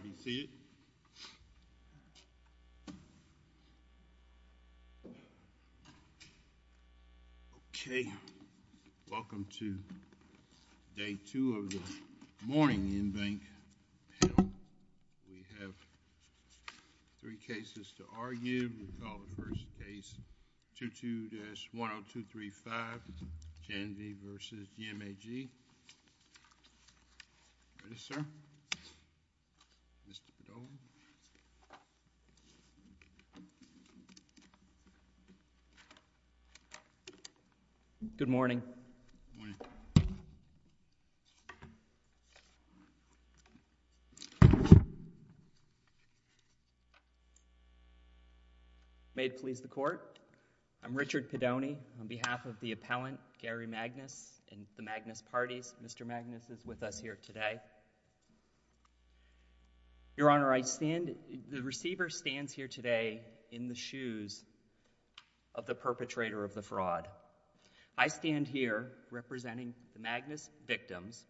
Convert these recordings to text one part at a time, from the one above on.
Okay, welcome to day two of the morning InBank panel. We have three cases to argue. We call today, Mr. Pidone. Richard Pidone Good morning. May it please the court, I'm Richard Pidone on behalf of the appellant, Gary Magnus, and the Magnus Parties. Mr. Magnus is with us here today. Your Honor, the receiver stands here today in the shoes of the perpetrator of the fraud. I stand here representing the Magnus victims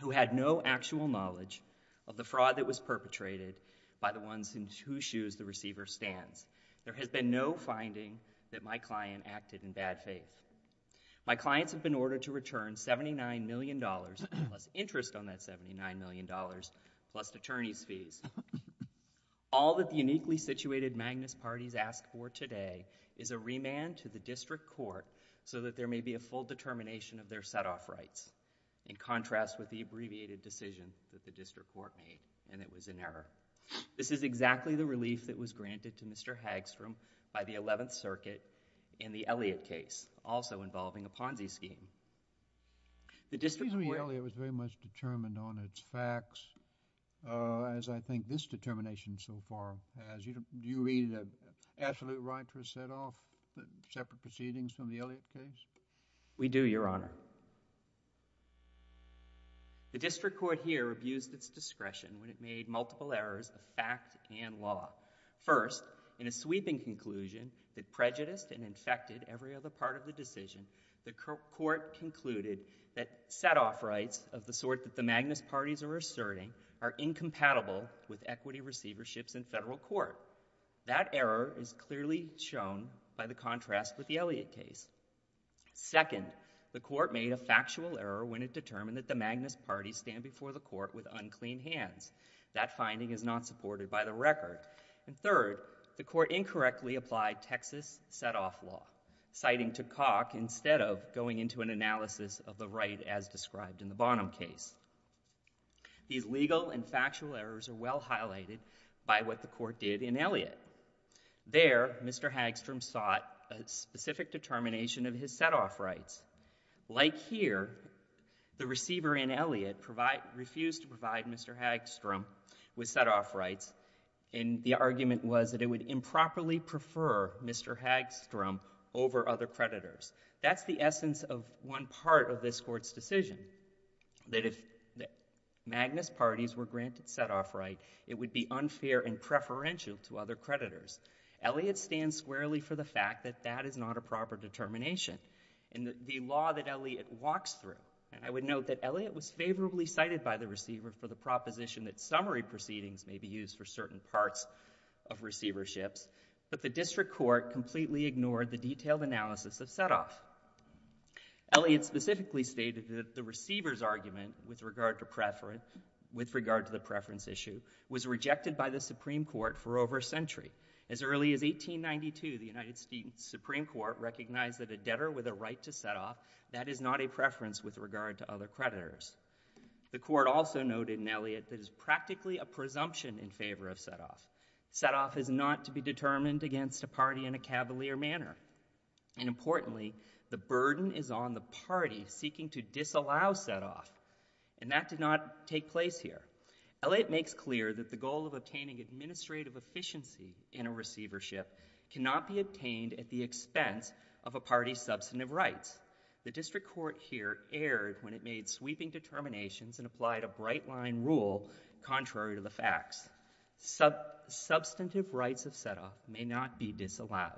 who had no actual knowledge of the fraud that was perpetrated by the ones in whose shoes the receiver stands. There has been no finding that my client acted in bad faith. My clients have been ordered to return $79 million plus interest on that $79 million plus attorney's fees. All that the uniquely situated Magnus Parties ask for today is a remand to the district court so that there may be a full determination of their set-off rights, in contrast with the abbreviated decision that the district court made, and it was in error. This is exactly the relief that was granted to Mr. Hagstrom by the 11th Circuit in the Elliott case, also involving a Ponzi scheme. The district court— The reason the Elliott was very much determined on its facts, as I think this determination so far has, do you read an absolute right to a set-off, separate proceedings from the Elliott case? We do, Your Honor. The district court here abused its discretion when it made multiple errors of fact and law. First, in a sweeping conclusion that prejudiced and infected every other part of the decision, the court concluded that set-off rights of the sort that the Magnus Parties are asserting are incompatible with equity receiverships in federal court. That error is clearly shown by the contrast with the Elliott case. Second, the court made a factual error when it determined that the Magnus Parties stand before the court with something that is not supported by the record. And third, the court incorrectly applied Texas set-off law, citing Tukok instead of going into an analysis of the right as described in the Bonham case. These legal and factual errors are well highlighted by what the court did in Elliott. There, Mr. Hagstrom sought a specific determination of his set-off rights. Like here, the receiver in Elliott refused to provide Mr. Hagstrom with set-off rights, and the argument was that it would improperly prefer Mr. Hagstrom over other creditors. That's the essence of one part of this Court's decision, that if Magnus Parties were granted set-off rights, it would be unfair and preferential to other creditors. Elliott stands squarely for the fact that that is not a proper determination. And the law that Elliott walks through, and I would note that Elliott was favorably cited by the receiver for the proposition that summary proceedings may be used for certain parts of receiverships, but the district court completely ignored the detailed analysis of set-off. Elliott specifically stated that the receiver's argument with regard to preference, with regard to the preference issue, was rejected by the Supreme Court for over a century. As early as 1892, the United States Supreme Court recognized that a debtor with a right to set-off, that is not a preference with regard to other creditors. The Court also noted in Elliott that it is practically a presumption in favor of set-off. Set-off is not to be determined against a party in a cavalier manner. And importantly, the burden is on the party seeking to disallow set-off, and that did not take place here. Elliott makes clear that the goal of obtaining administrative efficiency in a receivership cannot be obtained at the expense of a party's substantive rights. The district court here erred when it made sweeping determinations and applied a bright-line rule contrary to the facts. Substantive rights of set-off may not be disallowed.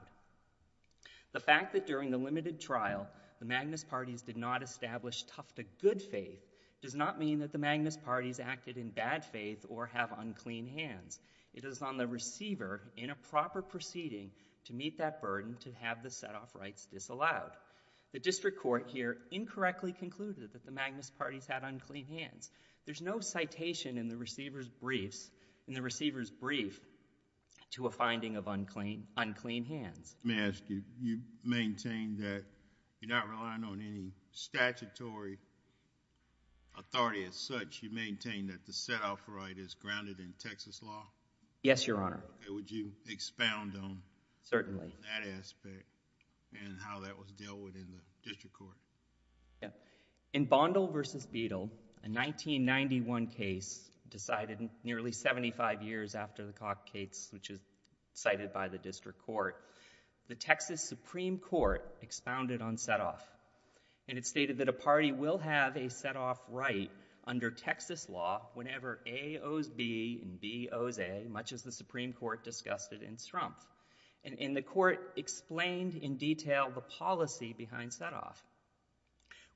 The fact that during the limited trial, the Magnus Parties did not establish tough-to-good faith does not mean that the Magnus Parties acted in bad faith or have unclean hands. It is on the receiver, in a proper proceeding, to meet that burden to have the set-off rights disallowed. The district court here incorrectly concluded that the Magnus Parties had unclean hands. There's no citation in the receiver's brief to a finding of unclean hands. May I ask you, you maintain that you're not relying on any statutory authority as such. You maintain that the set-off right is grounded in Texas law? Yes, Your Honor. Would you expound on that aspect and how that was dealt with in the district court? In Bondle v. Beadle, a 1991 case decided nearly 75 years after the Cockates, which is cited by the district court, the Texas Supreme Court expounded on set-off, and it stated that a set-off is grounded in Texas law whenever A owes B and B owes A, much as the Supreme Court discussed it in Strumpf. And the court explained in detail the policy behind set-off,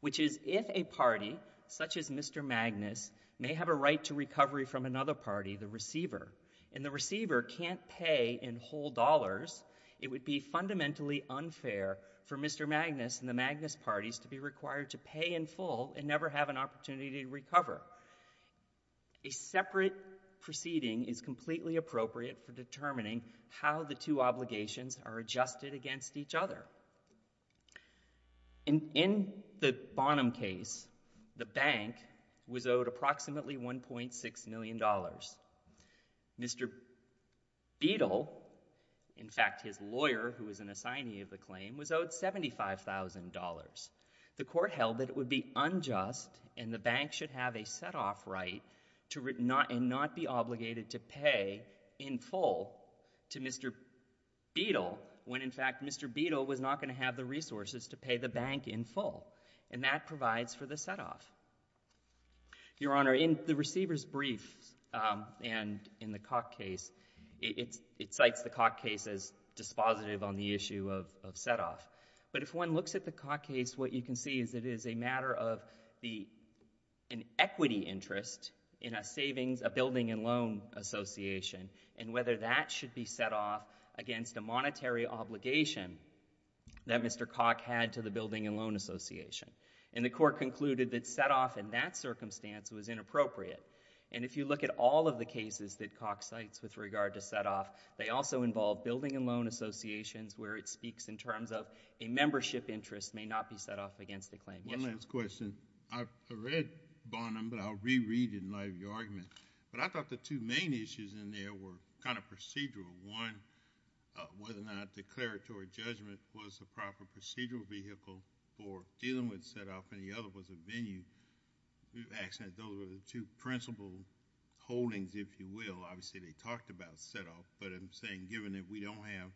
which is if a party, such as Mr. Magnus, may have a right to recovery from another party, the receiver, and the receiver can't pay in whole dollars, it would be fundamentally unfair for Mr. Magnus and the Magnus Parties to be required to pay in full and never have an opportunity to recover. A separate proceeding is completely appropriate for determining how the two obligations are adjusted against each other. In the Bonham case, the bank was owed approximately $1.6 million. Mr. Beadle, in fact, his lawyer who was an assignee of the claim, was owed $75,000. The court held that it would be unjust and the bank should have a set-off right and not be obligated to pay in full to Mr. Beadle when, in fact, Mr. Beadle was not going to have the resources to pay the bank in full, and that provides for the set-off. Your Honor, in the receiver's brief and in the Cocke case, it cites the Cocke case as dispositive on the issue of set-off. But if one looks at the Cocke case, what you can see is it is a matter of an equity interest in a building and loan association and whether that should be set-off against a monetary obligation that Mr. Cocke had to the building and loan association. And the court concluded that set-off in that circumstance was inappropriate. And if you look at all of the cases that Cocke cites with regard to set-off, they also involve building and loan associations where it speaks in terms of a membership interest may not be set-off against the claim. One last question. I read Bonham, but I'll re-read it in light of your argument. But I thought the two main issues in there were kind of procedural. One, whether or not declaratory judgment was the proper procedural vehicle for dealing with set-off, and the other was a venue. Actually, those were the two principal holdings, if you will. Obviously, they talked about set-off, but I'm saying given that we don't have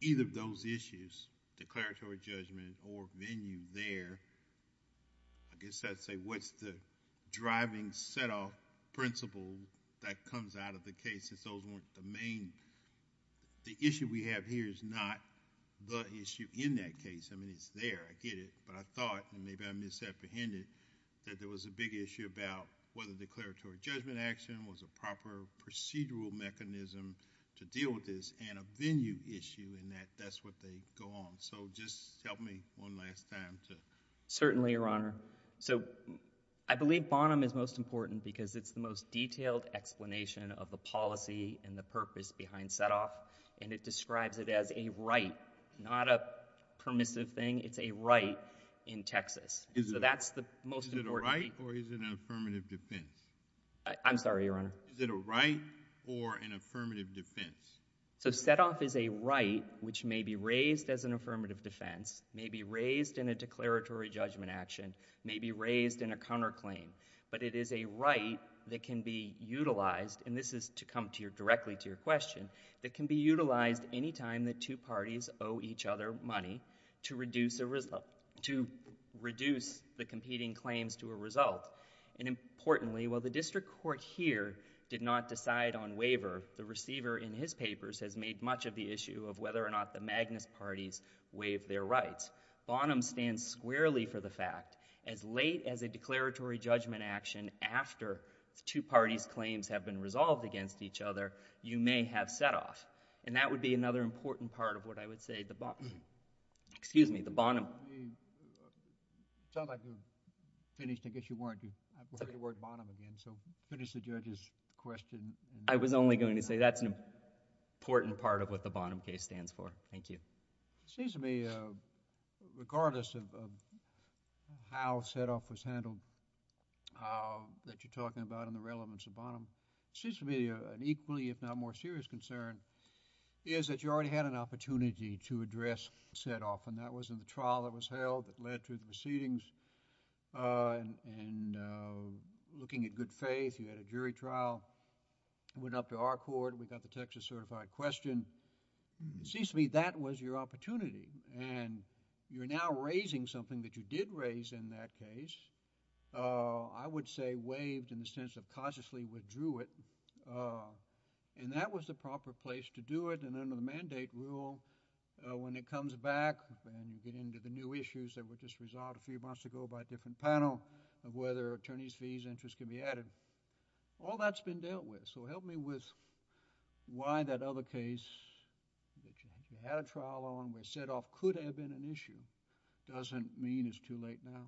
either of those issues, declaratory judgment or venue there, I guess I'd say what's the driving set-off principle that comes out of the case since those weren't the main... The issue we have here is not the issue in that case. I mean, it's there. I get it. But I thought, and maybe I misapprehended, that there was a big issue about whether declaratory judgment action was a proper procedural mechanism to deal with this, and a venue issue in that that's what they go on. So, just help me one last time to... Certainly, Your Honor. So, I believe Bonham is most important because it's the most detailed explanation of the policy and the purpose behind set-off, and it describes it as a right, not a permissive thing. It's a right in Texas. So, that's the most important... Is it a right or is it an affirmative defense? I'm sorry, Your Honor. Is it a right or an affirmative defense? So, set-off is a right which may be raised as an affirmative defense, may be raised in a declaratory judgment action, may be raised in a counterclaim, but it is a right that can be utilized, and this is to come directly to your question, that can be utilized any time the two parties owe each other money to reduce the competing claims to a result. And importantly, while the district court here did not decide on waiver, the receiver in his papers has made much of the issue of whether or not the Magnus parties waive their rights. Bonham stands squarely for the fact, as late as a declaratory judgment action, after the two parties' claims have been resolved against each other, you may have set-off, and that would be another important part of what I would say the... Excuse me, the word... I've heard the word Bonham again, so finish the judge's question. I was only going to say that's an important part of what the Bonham case stands for. Thank you. It seems to me, regardless of how set-off was handled, that you're talking about and the relevance of Bonham, it seems to me an equally, if not more serious concern is that you already had an opportunity to address set-off, and that was in the trial that was going on, and looking at good faith, you had a jury trial, went up to our court, we got the Texas certified question. It seems to me that was your opportunity, and you're now raising something that you did raise in that case. I would say waived in the sense of cautiously withdrew it, and that was the proper place to do it, and under the mandate rule, when it comes back and you get into the new issues that were just resolved a few years ago, the panel of whether attorney's fees, interest can be added, all that's been dealt with, so help me with why that other case that you had a trial on where set-off could have been an issue doesn't mean it's too late now.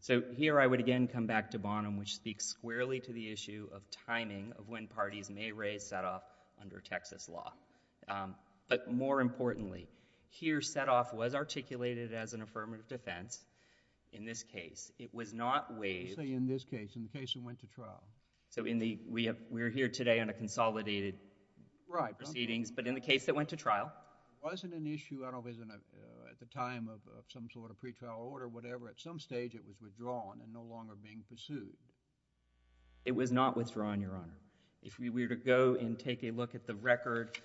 Certainly. Here I would again come back to Bonham, which speaks squarely to the issue of timing of when parties may raise set-off under Texas law, but more importantly, here the set-off was articulated as an affirmative defense in this case. It was not waived... You say in this case, in the case that went to trial. We're here today on a consolidated proceedings, but in the case that went to trial. Wasn't an issue, I don't know if it was at the time of some sort of pretrial order, whatever, at some stage it was withdrawn and no longer being pursued. It was not withdrawn, Your Honor. If we were to go and take a look at the record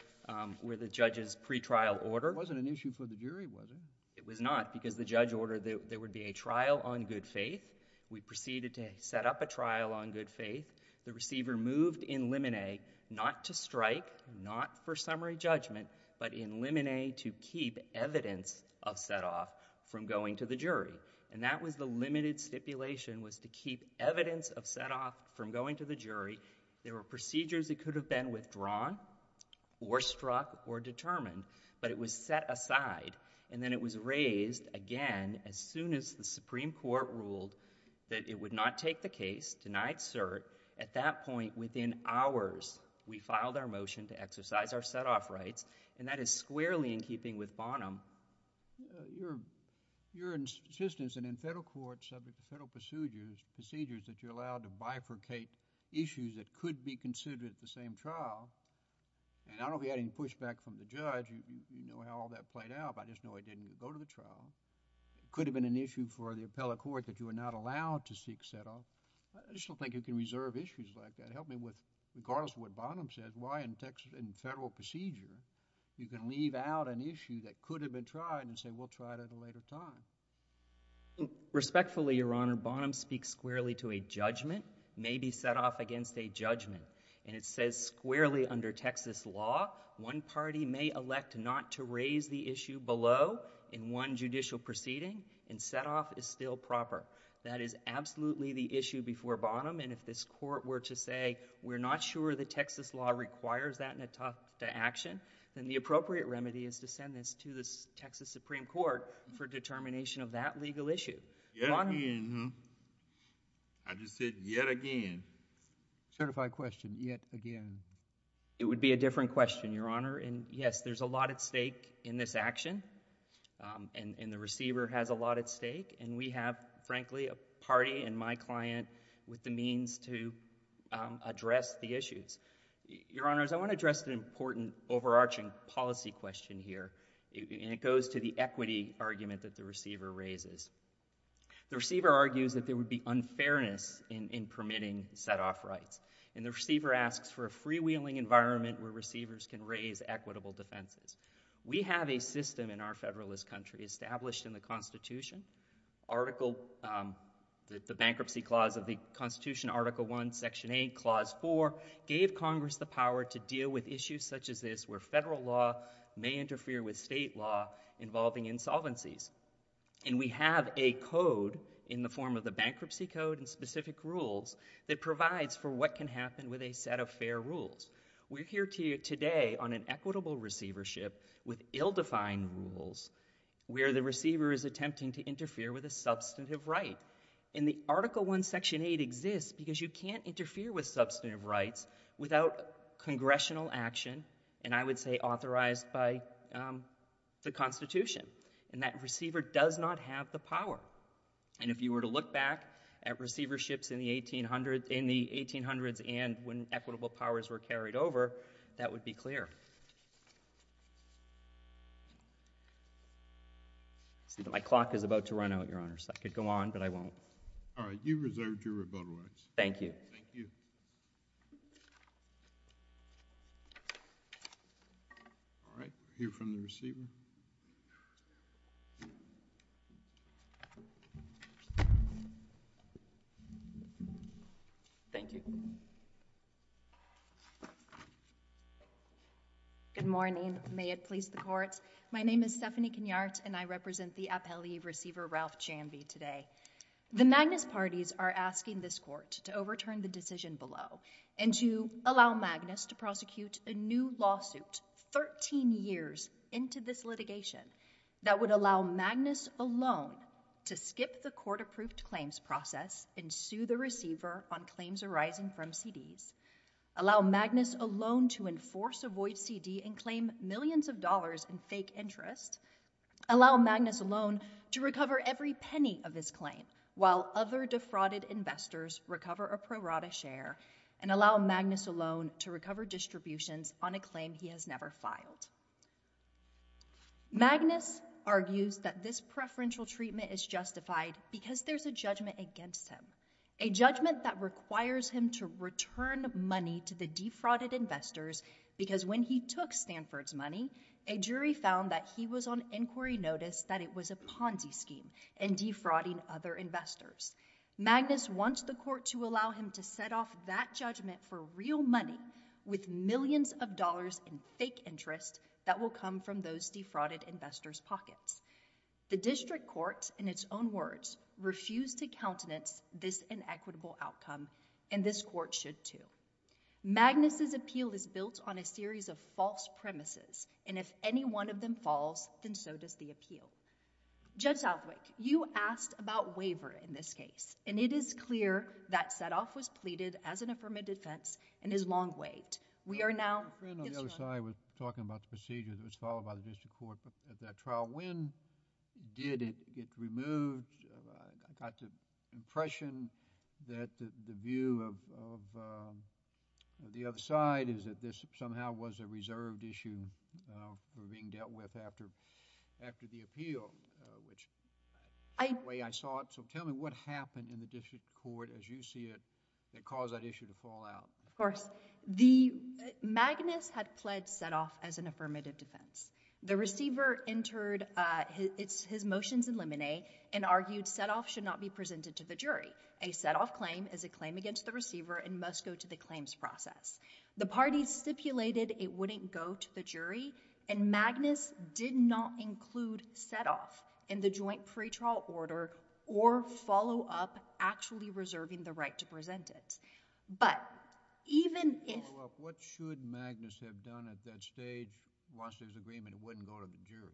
where the judge's pretrial order... It wasn't an issue for the jury, was it? It was not, because the judge ordered that there would be a trial on good faith. We proceeded to set up a trial on good faith. The receiver moved in limine not to strike, not for summary judgment, but in limine to keep evidence of set-off from going to the jury, and that was the limited stipulation was to keep evidence of set-off from going to the jury. There were no exceptions to that. It was set aside, and then it was raised again as soon as the Supreme Court ruled that it would not take the case, denied cert, at that point within hours, we filed our motion to exercise our set-off rights, and that is squarely in keeping with Bonham. Your insistence that in federal court, subject to federal procedures, that you're allowed to bifurcate issues that could be considered at the same trial, and I don't get any pushback from the judge. You know how all that played out, but I just know I didn't go to the trial. It could have been an issue for the appellate court that you were not allowed to seek set-off. I just don't think you can reserve issues like that. Help me with, regardless of what Bonham says, why in federal procedure you can leave out an issue that could have been tried and say we'll try it at a later time. Respectfully, Your Honor, Bonham speaks squarely to a judgment may be set-off against a judgment, and it says squarely under Texas law, one party may elect not to raise the issue below in one judicial proceeding, and set-off is still proper. That is absolutely the issue before Bonham, and if this court were to say we're not sure the Texas law requires that in a talk to action, then the appropriate remedy is to send this to the Texas Supreme Court for determination of that legal issue. Yet again, huh? I just said yet again. Certified question, yet again. It would be a different question, Your Honor, and yes, there's a lot at stake in this action, and the receiver has a lot at stake, and we have, frankly, a party and my client with the means to address the issues. Your Honors, I want to address an important overarching policy question here, and it goes to the equity argument that the receiver raises. The receiver argues that there would be unfairness in permitting set-off rights, and the receiver asks for a freewheeling environment where receivers can raise equitable defenses. We have a system in our Federalist country established in the Constitution, the bankruptcy clause of the Constitution, Article I, Section 8, Clause 4, gave Congress the power to deal with issues such as this where federal law may interfere with state law involving insolvencies, and we have a code in the form of the bankruptcy code and specific rules that provides for what can happen with a set of fair rules. We're here to you today on an equitable receivership with ill-defined rules where the receiver is attempting to interfere with a substantive right, and the Article I, Section 8 exists because you can't interfere with substantive rights without Congressional action, and I would say authorized by the Constitution, and that receiver does not have the power. And if you were to look back at receiverships in the 1800s and when equitable powers were carried over, that would be clear. My clock is about to run out, Your Honors. I could go on, but I won't. All right. You've reserved your rebuttal rights. Thank you. Thank you. All right. We'll hear from the receiver. Thank you. Good morning. May it please the Court. My name is Stephanie Kenyart, and I represent the appellee receiver, Ralph Janvey, today. The Magnus parties are asking this Court to overturn the decision below and to allow Magnus to prosecute a new lawsuit 13 years into this litigation that would allow Magnus alone to skip the court-approved claims process and sue the receiver on claims arising from CDs, allow Magnus alone to enforce a void CD and claim millions of dollars in fake interest, allow Magnus alone to recover every penny of his claim while other defrauded investors recover a prorata share, and allow Magnus alone to recover distributions on a claim he has never filed. Magnus argues that this preferential treatment is justified because there's a judgment against him, a judgment that requires him to return money to the defrauded investors because when he took Stanford's money, a jury found that he was on inquiry notice that it was a Ponzi scheme and defrauding other investors. Magnus wants the court to allow him to set off that judgment for real money with millions of dollars in fake interest that will come from those defrauded investors' pockets. The district court, in its own words, refused to countenance this inequitable outcome, and this court should, too. Magnus' appeal is built on a series of false premises, and if any one of them falls, then so does the appeal. Judge Southwick, you asked about waiver in this case, and it is clear that setoff was pleaded as an affirmative defense and is long waived. We are now... My friend on the other side was talking about the procedure that was followed by the district court at that trial. When did it get removed? I got the impression that the view of the other side is that this somehow was a reserved issue for being dealt with after the appeal, which is the way I saw it. Tell me what happened in the district court as you see it that caused that issue to fall out. Of course. Magnus had pledged setoff as an affirmative defense. The receiver entered his motions in limine and argued setoff should not be presented to the jury. A setoff claim is a claim against the receiver and must go to the claims process. The parties stipulated it wouldn't go to the jury, and Magnus did not include setoff in the joint pretrial order or follow-up actually reserving the right to present it. But even if... What should Magnus have done at that stage once his agreement wouldn't go to the jury?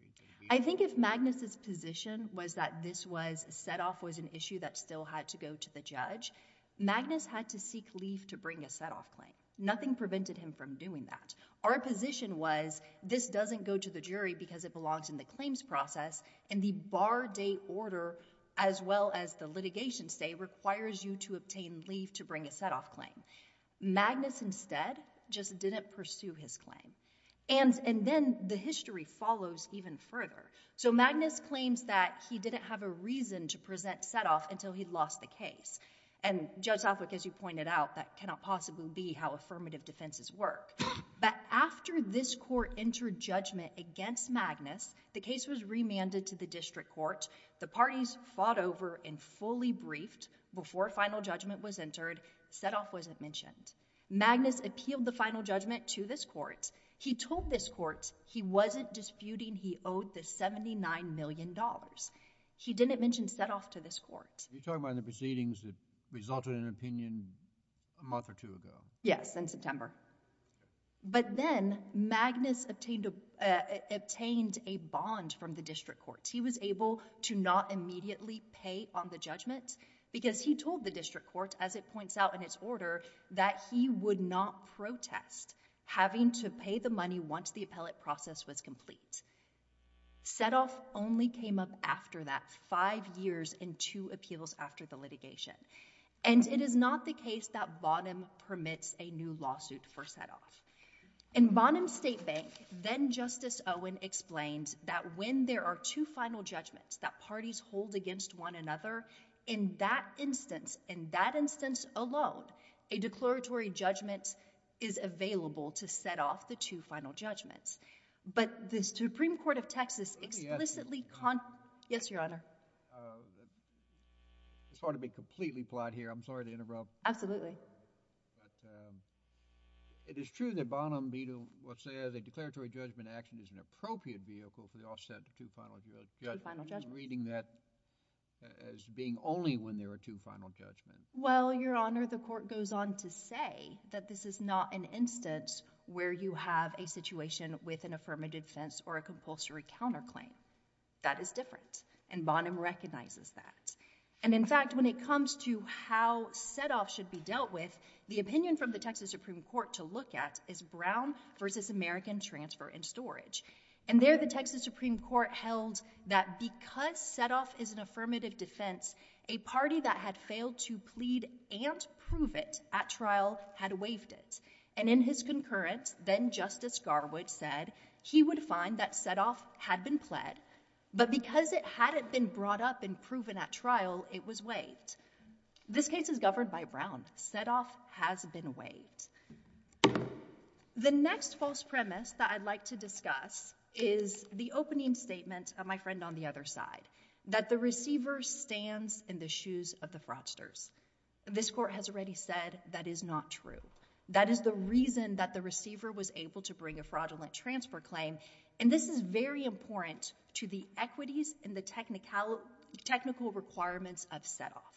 I think if Magnus' position was that this was... setoff was an issue that still had to go to the judge, Magnus had to seek leave to bring a setoff claim. Nothing prevented him from doing that. Our position was this doesn't go to the jury because it belongs in the claims process, and the bar date order as well as the litigation stay requires you to obtain leave to bring a setoff claim. Magnus instead just didn't pursue his claim. And then the history follows even further. So Magnus claims that he didn't have a reason to present setoff until he lost the case. And Judge Southwick, as you pointed out, that cannot possibly be how affirmative defenses work. But after this court entered judgment against Magnus, the case was remanded to the district The parties fought over and fully briefed before final judgment was entered. Setoff wasn't mentioned. Magnus appealed the final judgment to this court. He told this court he wasn't disputing he owed the $79 million. He didn't mention setoff to this court. You're talking about the proceedings that resulted in an opinion a month or two ago. Yes, in September. But then Magnus obtained a bond from the district court. As it points out in its order, that he would not protest having to pay the money once the appellate process was complete. Setoff only came up after that, five years and two appeals after the litigation. And it is not the case that Bonham permits a new lawsuit for setoff. In Bonham State Bank, then Justice Owen explained that when there are two final judgments that instance alone, a declaratory judgment is available to set off the two final judgments. But the Supreme Court of Texas explicitly... Let me ask you... Yes, Your Honor. It's hard to be completely polite here. I'm sorry to interrupt. Absolutely. But it is true that Bonham Bito will say that a declaratory judgment action is an appropriate vehicle for the offset of two final judgments. Two final judgments. Well, Your Honor, the court goes on to say that this is not an instance where you have a situation with an affirmative defense or a compulsory counterclaim. That is different. And Bonham recognizes that. And in fact, when it comes to how setoff should be dealt with, the opinion from the Texas Supreme Court to look at is Brown versus American Transfer and Storage. And there the Texas Supreme Court held that because setoff is an affirmative defense, a party that had failed to plead and prove it at trial had waived it. And in his concurrence, then Justice Garwood said he would find that setoff had been pled, but because it hadn't been brought up and proven at trial, it was waived. This case is governed by Brown. Setoff has been waived. The next false premise that I'd like to discuss is the opening statement of my friend on the other side, that the receiver stands in the shoes of the fraudsters. This court has already said that is not true. That is the reason that the receiver was able to bring a fraudulent transfer claim. And this is very important to the equities and the technical requirements of setoff.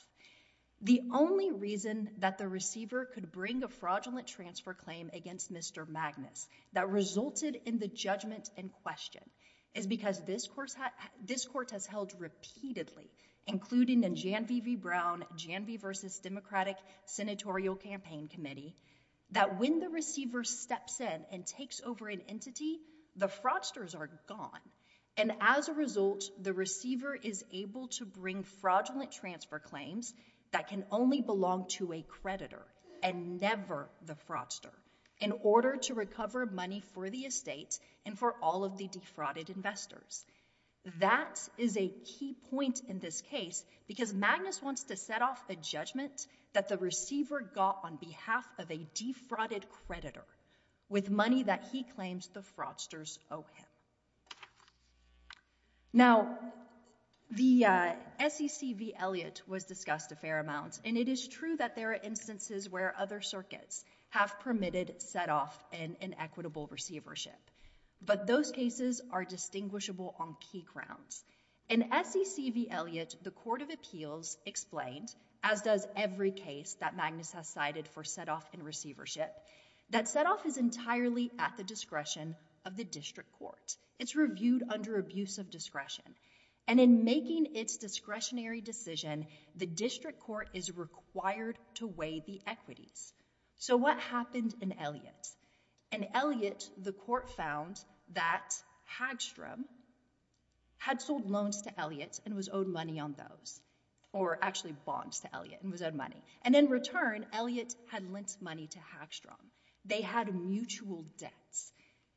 The only reason that the receiver could bring a fraudulent transfer claim against Mr. Magnus that resulted in the judgment in question is because this court has held repeatedly, including in Jan V. V. Brown, Jan V. versus Democratic Senatorial Campaign Committee, that when the receiver steps in and takes over an entity, the fraudsters are gone. And as a result, the receiver is able to bring fraudulent transfer claims that can only belong to a creditor and never the fraudster in order to recover money for the estate and for all of the defrauded investors. That is a key point in this case because Magnus wants to set off a judgment that the receiver got on behalf of a defrauded creditor with money that he claims the fraudsters owe him. Now, the SEC v. Elliott was discussed a fair amount. And it is true that there are instances where other circuits have permitted setoff and inequitable receivership. But those cases are distinguishable on key grounds. In SEC v. Elliott, the Court of Appeals explained, as does every case that Magnus has cited for It's reviewed under abuse of discretion. And in making its discretionary decision, the district court is required to weigh the equities. So what happened in Elliott? In Elliott, the court found that Hagstrom had sold loans to Elliott and was owed money on those, or actually bonds to Elliott and was owed money. And in return, Elliott had lent money to Hagstrom. They had mutual debts.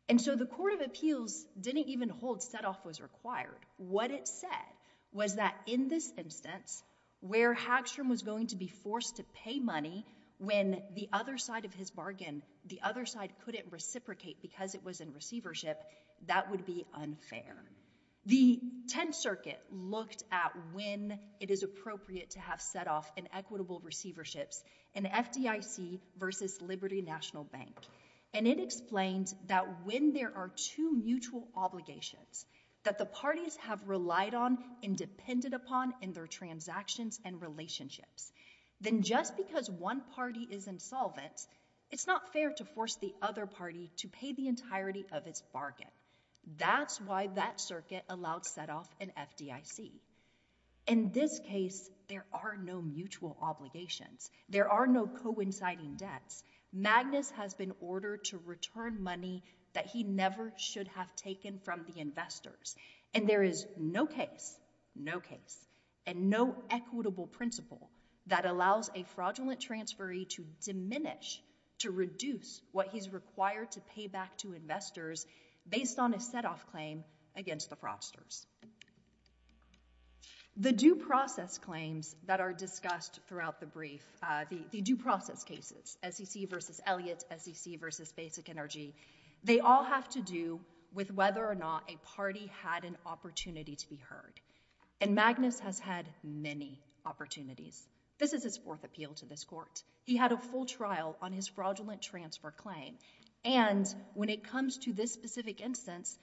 And so the Court of Appeals didn't even hold setoff was required. What it said was that in this instance, where Hagstrom was going to be forced to pay money when the other side of his bargain, the other side couldn't reciprocate because it was in receivership, that would be unfair. The Tenth Circuit looked at when it is appropriate to have setoff and equitable receiverships in FDIC v. Liberty National Bank. And it explains that when there are two mutual obligations that the parties have relied on and depended upon in their transactions and relationships, then just because one party is insolvent, it's not fair to force the other party to pay the entirety of its bargain. That's why that circuit allowed setoff in FDIC. In this case, there are no mutual obligations. There are no coinciding debts. Magnus has been ordered to return money that he never should have taken from the investors. And there is no case, no case, and no equitable principle that allows a fraudulent transferee to diminish, to reduce what he's required to pay back to investors based on a setoff claim against the frosters. The due process claims that are discussed throughout the brief, the due process cases, SEC v. Elliott, SEC v. Basic Energy, they all have to do with whether or not a party had an opportunity to be heard. And Magnus has had many opportunities. This is his fourth appeal to this court. He had a full trial on his fraudulent transfer claim. And when it comes to this specific instance,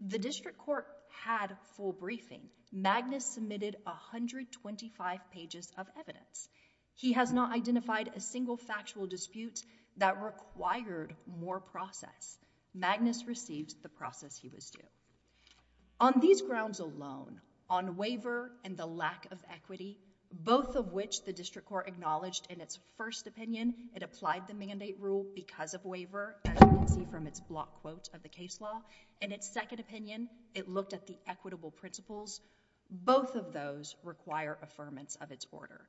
the district court had a full briefing. Magnus submitted 125 pages of evidence. He has not identified a single factual dispute that required more process. Magnus received the process he was due. On these grounds alone, on waiver and the lack of equity, both of which the district court acknowledged in its first opinion, it applied the mandate rule because of waiver, as you can see from its block quote of the case law. In its second opinion, it looked at the equitable principles. Both of those require affirmance of its order.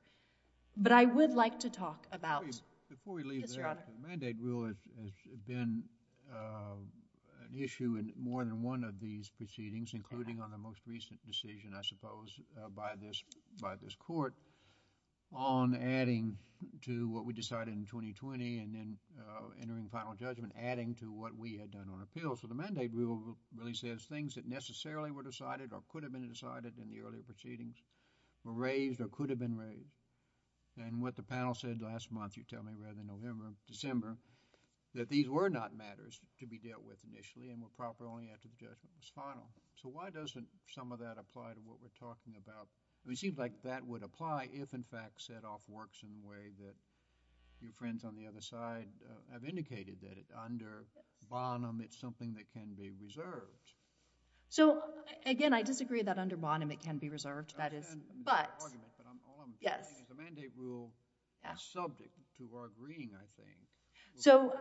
But I would like to talk about... Before we leave there, the mandate rule has been an issue in more than one of these proceedings, including on the most recent decision, I suppose, by this court on adding to what we decided in 2020 and then entering final judgment, adding to what we had done on appeals. So the mandate rule really says things that necessarily were decided or could have been decided in the earlier proceedings were raised or could have been raised. And what the panel said last month, you tell me, rather than November, December, that these were not matters to be dealt with initially and were proper only after the judgment was final. So why doesn't some of that apply to what we're talking about? It seems like that would apply if, in fact, set off works in a way that your... It's a mandate rule, and it can be reserved. So again, I disagree that under Bonham it can be reserved. I understand your argument, but all I'm saying is the mandate rule is subject to our agreeing, I think. So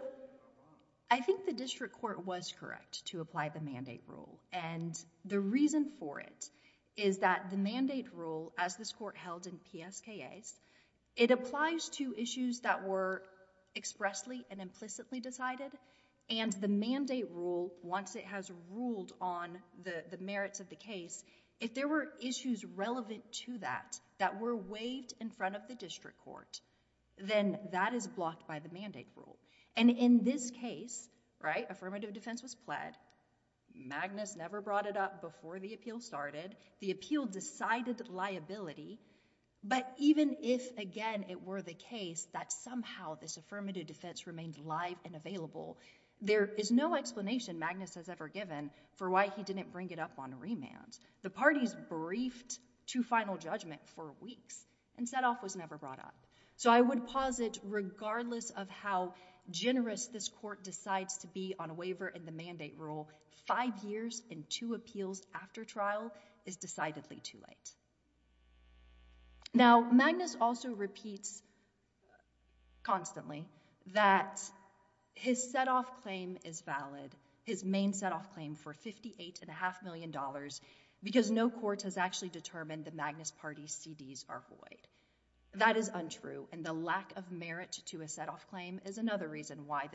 I think the district court was correct to apply the mandate rule. And the reason for it is that the mandate rule, as this court held in PSKA, it once it has ruled on the merits of the case, if there were issues relevant to that, that were waived in front of the district court, then that is blocked by the mandate rule. And in this case, affirmative defense was pled. Magnus never brought it up before the appeal started. The appeal decided liability, but even if again it were the case that somehow this affirmative defense remained live and available, there is no explanation Magnus has ever given for why he didn't bring it up on remand. The parties briefed to final judgment for weeks, and set off was never brought up. So I would posit regardless of how generous this court decides to be on a waiver and the mandate rule, five years and two appeals after trial is decidedly too late. Now, Magnus also repeats constantly that his set-off claim is valid, his main set-off claim for $58.5 million because no court has actually determined the Magnus party's CDs are void. That is untrue, and the lack of merit to a set-off claim is another reason why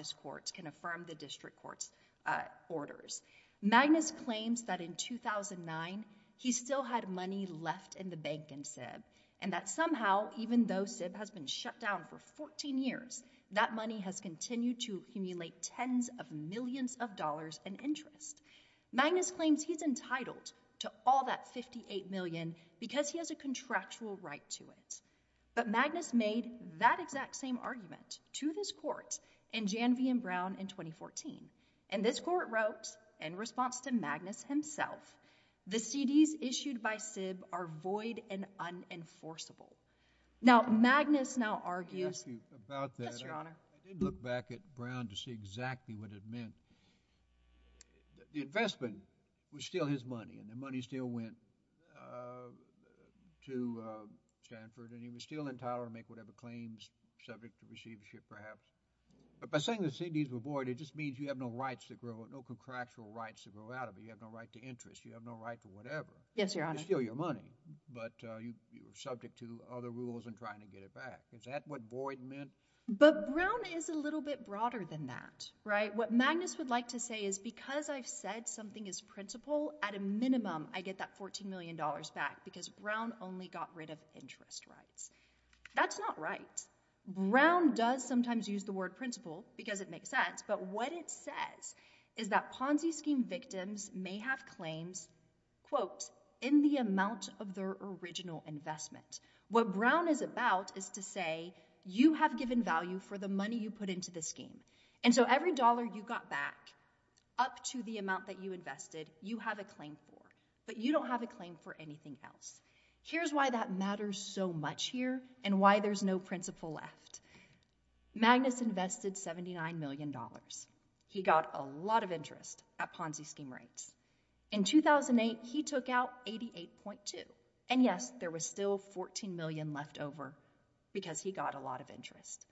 Magnus claims that in 2009, he still had money left in the bank and said, and that somehow, even though Sib has been shut down for 14 years, that money has continued to emulate tens of millions of dollars in interest. Magnus claims he's entitled to all that $58 million because he has a contractual right to it. But Magnus made that exact same argument to this court in Jan V. Brown in 2014, and this court wrote in response to Magnus himself, the CDs issued by Sib are void and unenforceable. Now, Magnus now argues... Let me ask you about that. Yes, Your Honor. I did look back at Brown to see exactly what it meant. The investment was still his money, and the money still went to Stanford, and he was still entitled to make whatever claims subject to receivership perhaps. But by saying the CDs were void, it just means you have no rights to grow, no contractual rights to grow out of it. You have no right to interest. You have no right to whatever. Yes, Your Honor. You're still your money, but you're subject to other rules in trying to get it back. Is that what void meant? But Brown is a little bit broader than that, right? What Magnus would like to say is because I've said something is principal, at a minimum, I get that $14 million back because Brown only got rid of interest rights. That's not right. Yes, Brown does sometimes use the word principal because it makes sense, but what it says is that Ponzi scheme victims may have claims, quote, in the amount of their original investment. What Brown is about is to say you have given value for the money you put into the scheme. And so every dollar you got back up to the amount that you invested, you have a claim for, but you don't have a claim for anything else. Here's why that matters so much here and why there's no principal left. Magnus invested $79 million. He got a lot of interest at Ponzi scheme rates. In 2008, he took out 88.2. And yes, there was still $14 million left over because he got a lot of interest.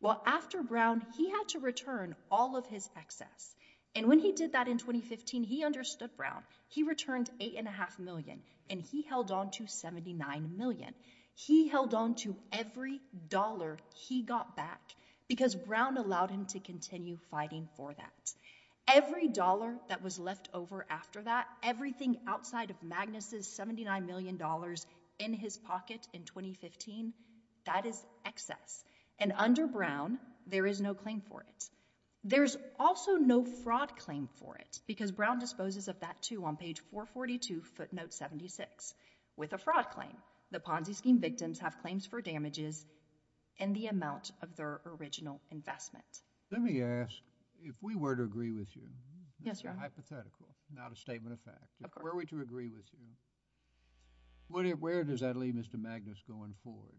Well, after Brown, he had to return all of his excess. And when he did that in 2015, he understood Brown. He returned 8.5 million and he held on to 79 million. He held on to every dollar he got back because Brown allowed him to continue fighting for that. Every dollar that was left over after that, everything outside of Magnus' $79 million in his pocket in 2015, that is excess. And under Brown, there is no claim for it. There's also no fraud claim for it because Brown disposes of that, too, on page 442, footnote 76. With a fraud claim, the Ponzi scheme victims have claims for damages and the amount of their original investment. Let me ask, if we were to agree with you, hypothetical, not a statement of fact, were we to agree with you, where does that leave Mr. Magnus going forward?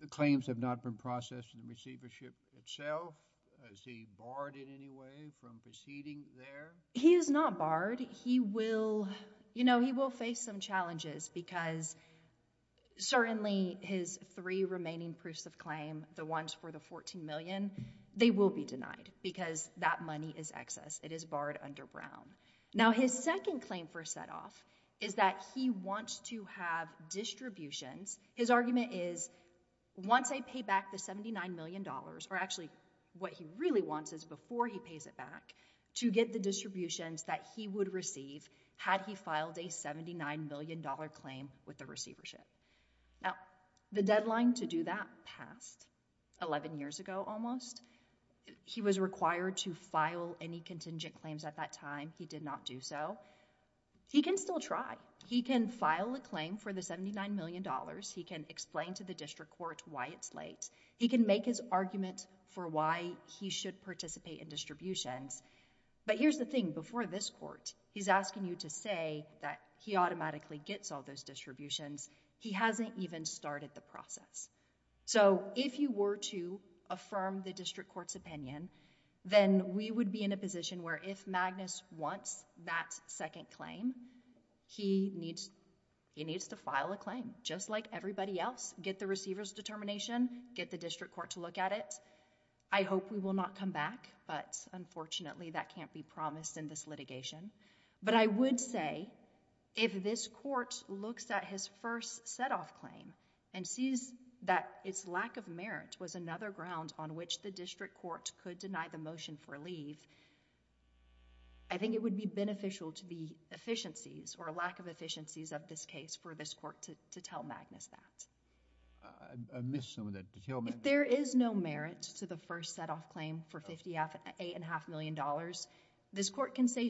The claims have not been processed in the receivership itself. Is he barred in any way from proceeding there? He is not barred. He will, you know, he will face some challenges because certainly his three remaining proofs of claim, the ones for the 14 million, they will be denied because that money is excess. It is barred under Brown. Now, his second claim for a set-off is that he wants to have distributions. His argument is, once I pay back the $79 million, or actually what he really wants is before he pays it back, to get the distributions that he would receive had he filed a $79 million claim with the receivership. Now, the deadline to do that passed 11 years ago almost. He was required to file any contingent claims at that time. He did not do so. He can still try. He can file a claim for the $79 million. He can explain to the district court why it's late. He can make his argument for why he should participate in distributions. But here's the thing, before this court, he's asking you to say that he automatically gets all those distributions. He hasn't even started the process. If you were to affirm the district court's opinion, then we would be in a position where if Magnus wants that second claim, he needs to file a claim just like everybody else. Get the receiver's determination. Get the district court to look at it. I hope we will not come back, but unfortunately, that can't be promised in this litigation. But I would say if this court looks at his first setoff claim and sees that its lack of merit was another ground on which the district court could deny the motion for leave, I think it would be beneficial to the efficiencies or lack of efficiencies of this case for this court to tell Magnus that. If there is no merit to the first setoff claim for $58.5 million, this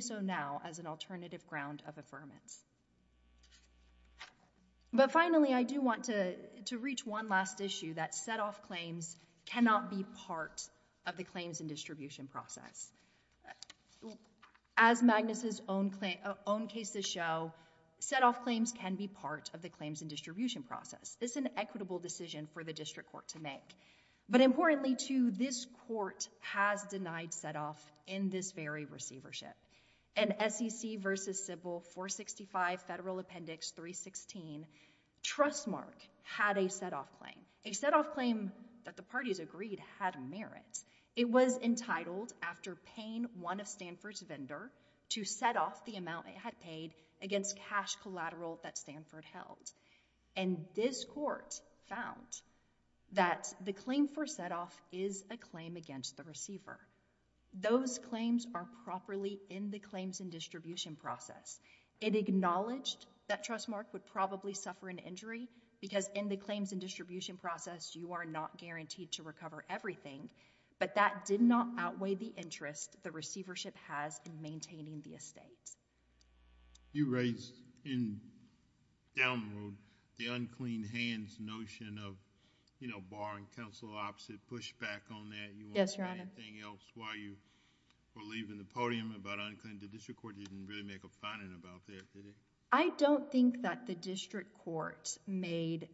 is now as an alternative ground of affirmance. But finally, I do want to reach one last issue that setoff claims cannot be part of the claims and distribution process. As Magnus' own cases show, setoff claims can be part of the claims and distribution process. It's an equitable decision for the district court to make. But importantly too, this court has denied setoff in this very receivership. In SEC v. Sybil 465 Federal Appendix 316, Trustmark had a setoff claim. A setoff claim that the parties agreed had merit. It was entitled after paying one of Stanford's vendors to setoff the amount it had paid against cash collateral that Stanford held. This court found that the claim for setoff is a claim against the receiver. Those claims are properly in the claims and distribution process. It acknowledged that Trustmark would probably suffer an injury because in the claims and distribution process, you are not guaranteed to recover everything. But that did not outweigh the interest the receivership has in maintaining the estate. You raised in down the road the unclean hands notion of bar and counsel opposite pushback on that. Do you want to say anything else while you were leaving the podium about unclean? The district court didn't really make a finding about that, did it? I don't think that the district court made...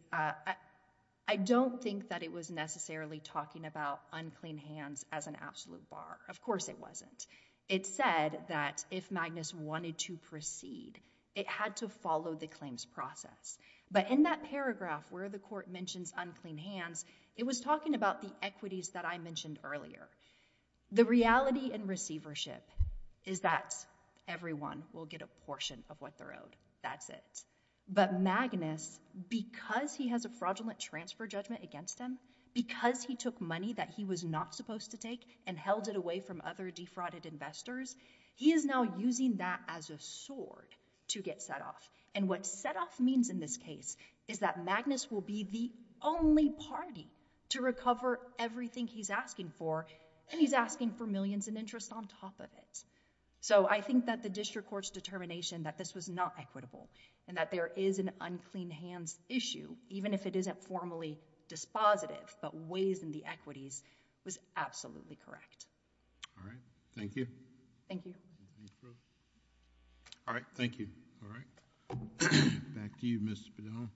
I don't think that it was necessarily talking about unclean hands as an absolute bar. Of course it wasn't. It said that if Magnus wanted to proceed, it had to follow the claims process. But in that paragraph where the court mentions unclean hands, it was talking about the equities that I mentioned earlier. The reality in receivership is that everyone will get a portion of what they're owed. That's it. But Magnus, because he has a fraudulent transfer judgment against him, because he took money that he was not supposed to take and held it away from other defrauded investors, he is now using that as a sword to get setoff. And what setoff means in this case is that Magnus will be the only party to recover everything he's asking for and he's asking for millions in interest on top of it. So, I think that the district court's determination that this was not equitable and that there is an unclean hands issue, even if it isn't formally dispositive but weighs in the equities, was absolutely correct. All right. Thank you. Thank you. All right. Thank you. All right. Back to you, Ms. Spadone.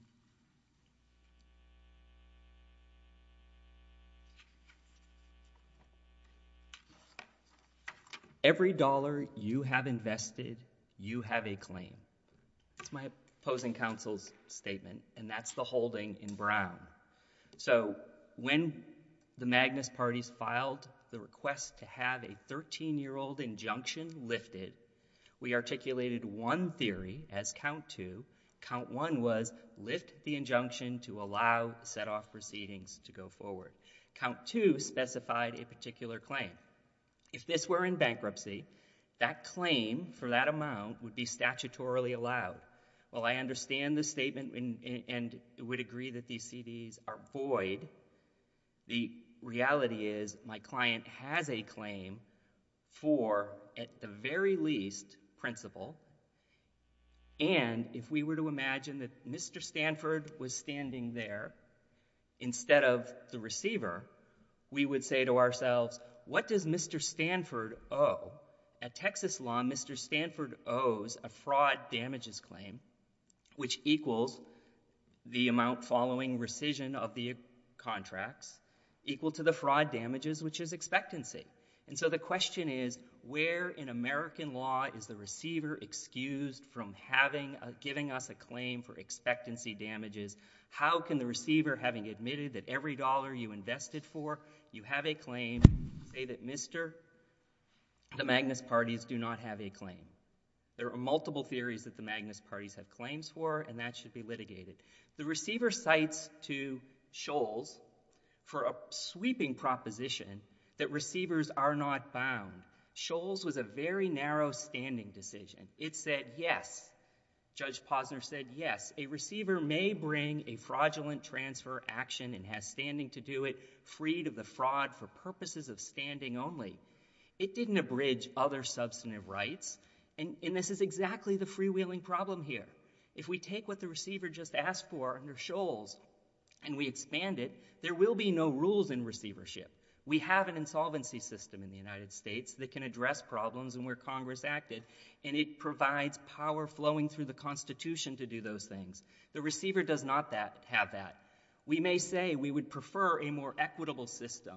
Every dollar you have invested, you have a claim. That's my opposing counsel's statement and that's the holding in Brown. So, when the Magnus parties filed the request to have a 13-year-old injunction lifted, we articulated one theory as count two. Count one was lift the injunction to allow setoff proceedings to go forward. Count two specified a particular claim. If this were in bankruptcy, that claim for that amount would be statutorily allowed. While I understand the statement and would agree that these CDs are void, the reality is my client has a claim for, at the very least, principal, and if we were to imagine that Mr. Stanford was standing there instead of the receiver, we would say to ourselves, what does Mr. Stanford owe? At Texas law, Mr. Stanford owes a fraud damages claim, which equals the amount following rescission of the contracts, equal to the fraud damages, which is expectancy. And so the question is, where in American law is the receiver excused from giving us a claim for expectancy damages? How can the receiver, having admitted that every dollar you invested for, you have a claim, say that Mr. the Magnus parties do not have a claim? There are multiple theories that the Magnus parties have claims for and that should be litigated. The receiver cites to Scholz for a sweeping proposition that receivers are not bound. Scholz was a very narrow standing decision. It said, yes, Judge Posner said, yes, a receiver may bring a fraudulent transfer action and has standing to do it, freed of the fraud for purposes of standing only. It didn't abridge other substantive rights, and this is exactly the freewheeling problem here. If we take what the receiver just asked for under Scholz and we expand it, there will be no rules in receivership. We have an insolvency system in the United States that can address problems and where Congress acted, and it provides power flowing through the Constitution to do those things. The receiver does not have that. We may say we would prefer a more equitable system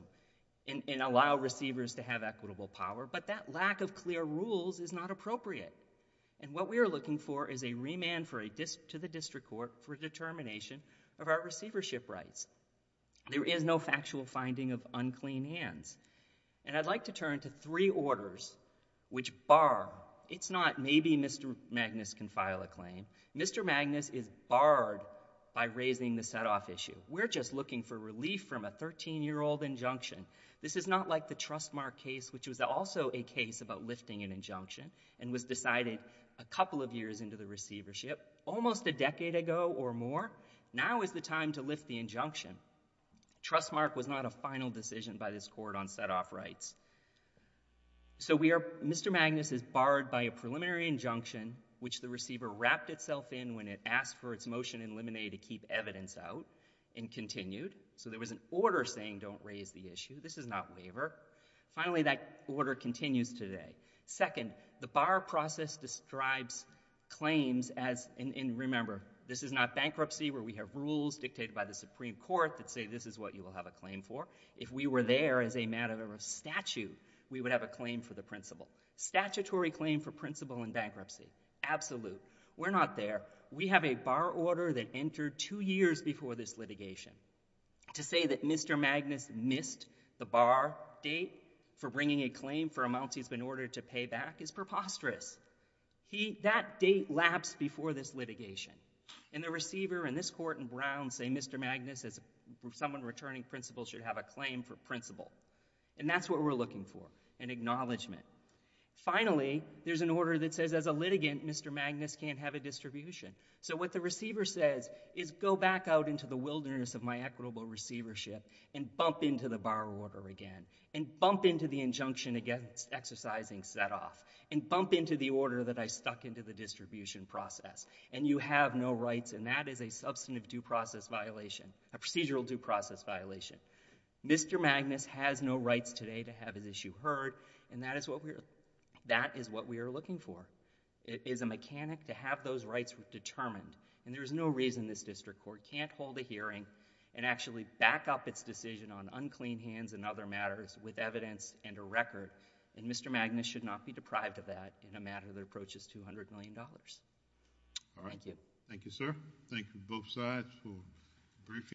and allow receivers to have equitable power, but that lack of clear rules is not appropriate. What we are looking for is a remand to the district court for determination of our receivership rights. There is no factual finding of unclean hands. I'd like to turn to three orders which bar... it's not maybe Mr. Magnus can file a claim. Mr. Magnus is barred by raising the set-off issue. We're just looking for relief from a thirteen-year-old injunction. This is not like the Trustmark case, which was also a case about lifting an injunction and was decided a couple of years into the receivership, almost a decade ago or more. Now is the time to lift the injunction. Trustmark was not a final decision by this court on set-off rights. So we are... Mr. Magnus is barred by a preliminary injunction, which the receiver wrapped itself in when it asked for its motion in limine to keep evidence out and continued. So there was an order saying don't raise the issue. This is not waiver. Finally, that order continues today. Second, the bar process describes claims as... and remember, this is not bankruptcy where we have rules dictated by the Supreme Court that say this is what you will have a claim for. If we were there as a matter of statute, we would have a claim for the principle. Statutory claim for principle in bankruptcy. Absolute. We're not there. We have a bar order that entered two years before this litigation to say that Mr. Magnus missed the bar date for bringing a claim for amounts he's been ordered to pay back is preposterous. That date lapsed before this litigation. And the receiver and this court in Brown say Mr. Magnus, as someone returning principle, should have a claim for principle. And that's what we're looking for, an acknowledgment. Finally, there's an order that says as a litigant, Mr. Magnus can't have a distribution. So what the receiver says is go back out into the wilderness of my equitable receivership and bump into the bar order again and bump into the injunction against exercising set off and bump into the order that I stuck into the distribution process. And you have no rights and that is a substantive due process violation, a procedural due process violation. Mr. Magnus has no rights today to have his issue heard and that is what we are looking for. It is a mechanic to have those rights determined and there is no reason this district court can't hold a hearing and actually back up its decision on unclean hands and other matters with evidence and a record. And Mr. Magnus should not be deprived of that in a matter that approaches $200 million. Thank you. Thank you, sir. Thank you both sides for briefing.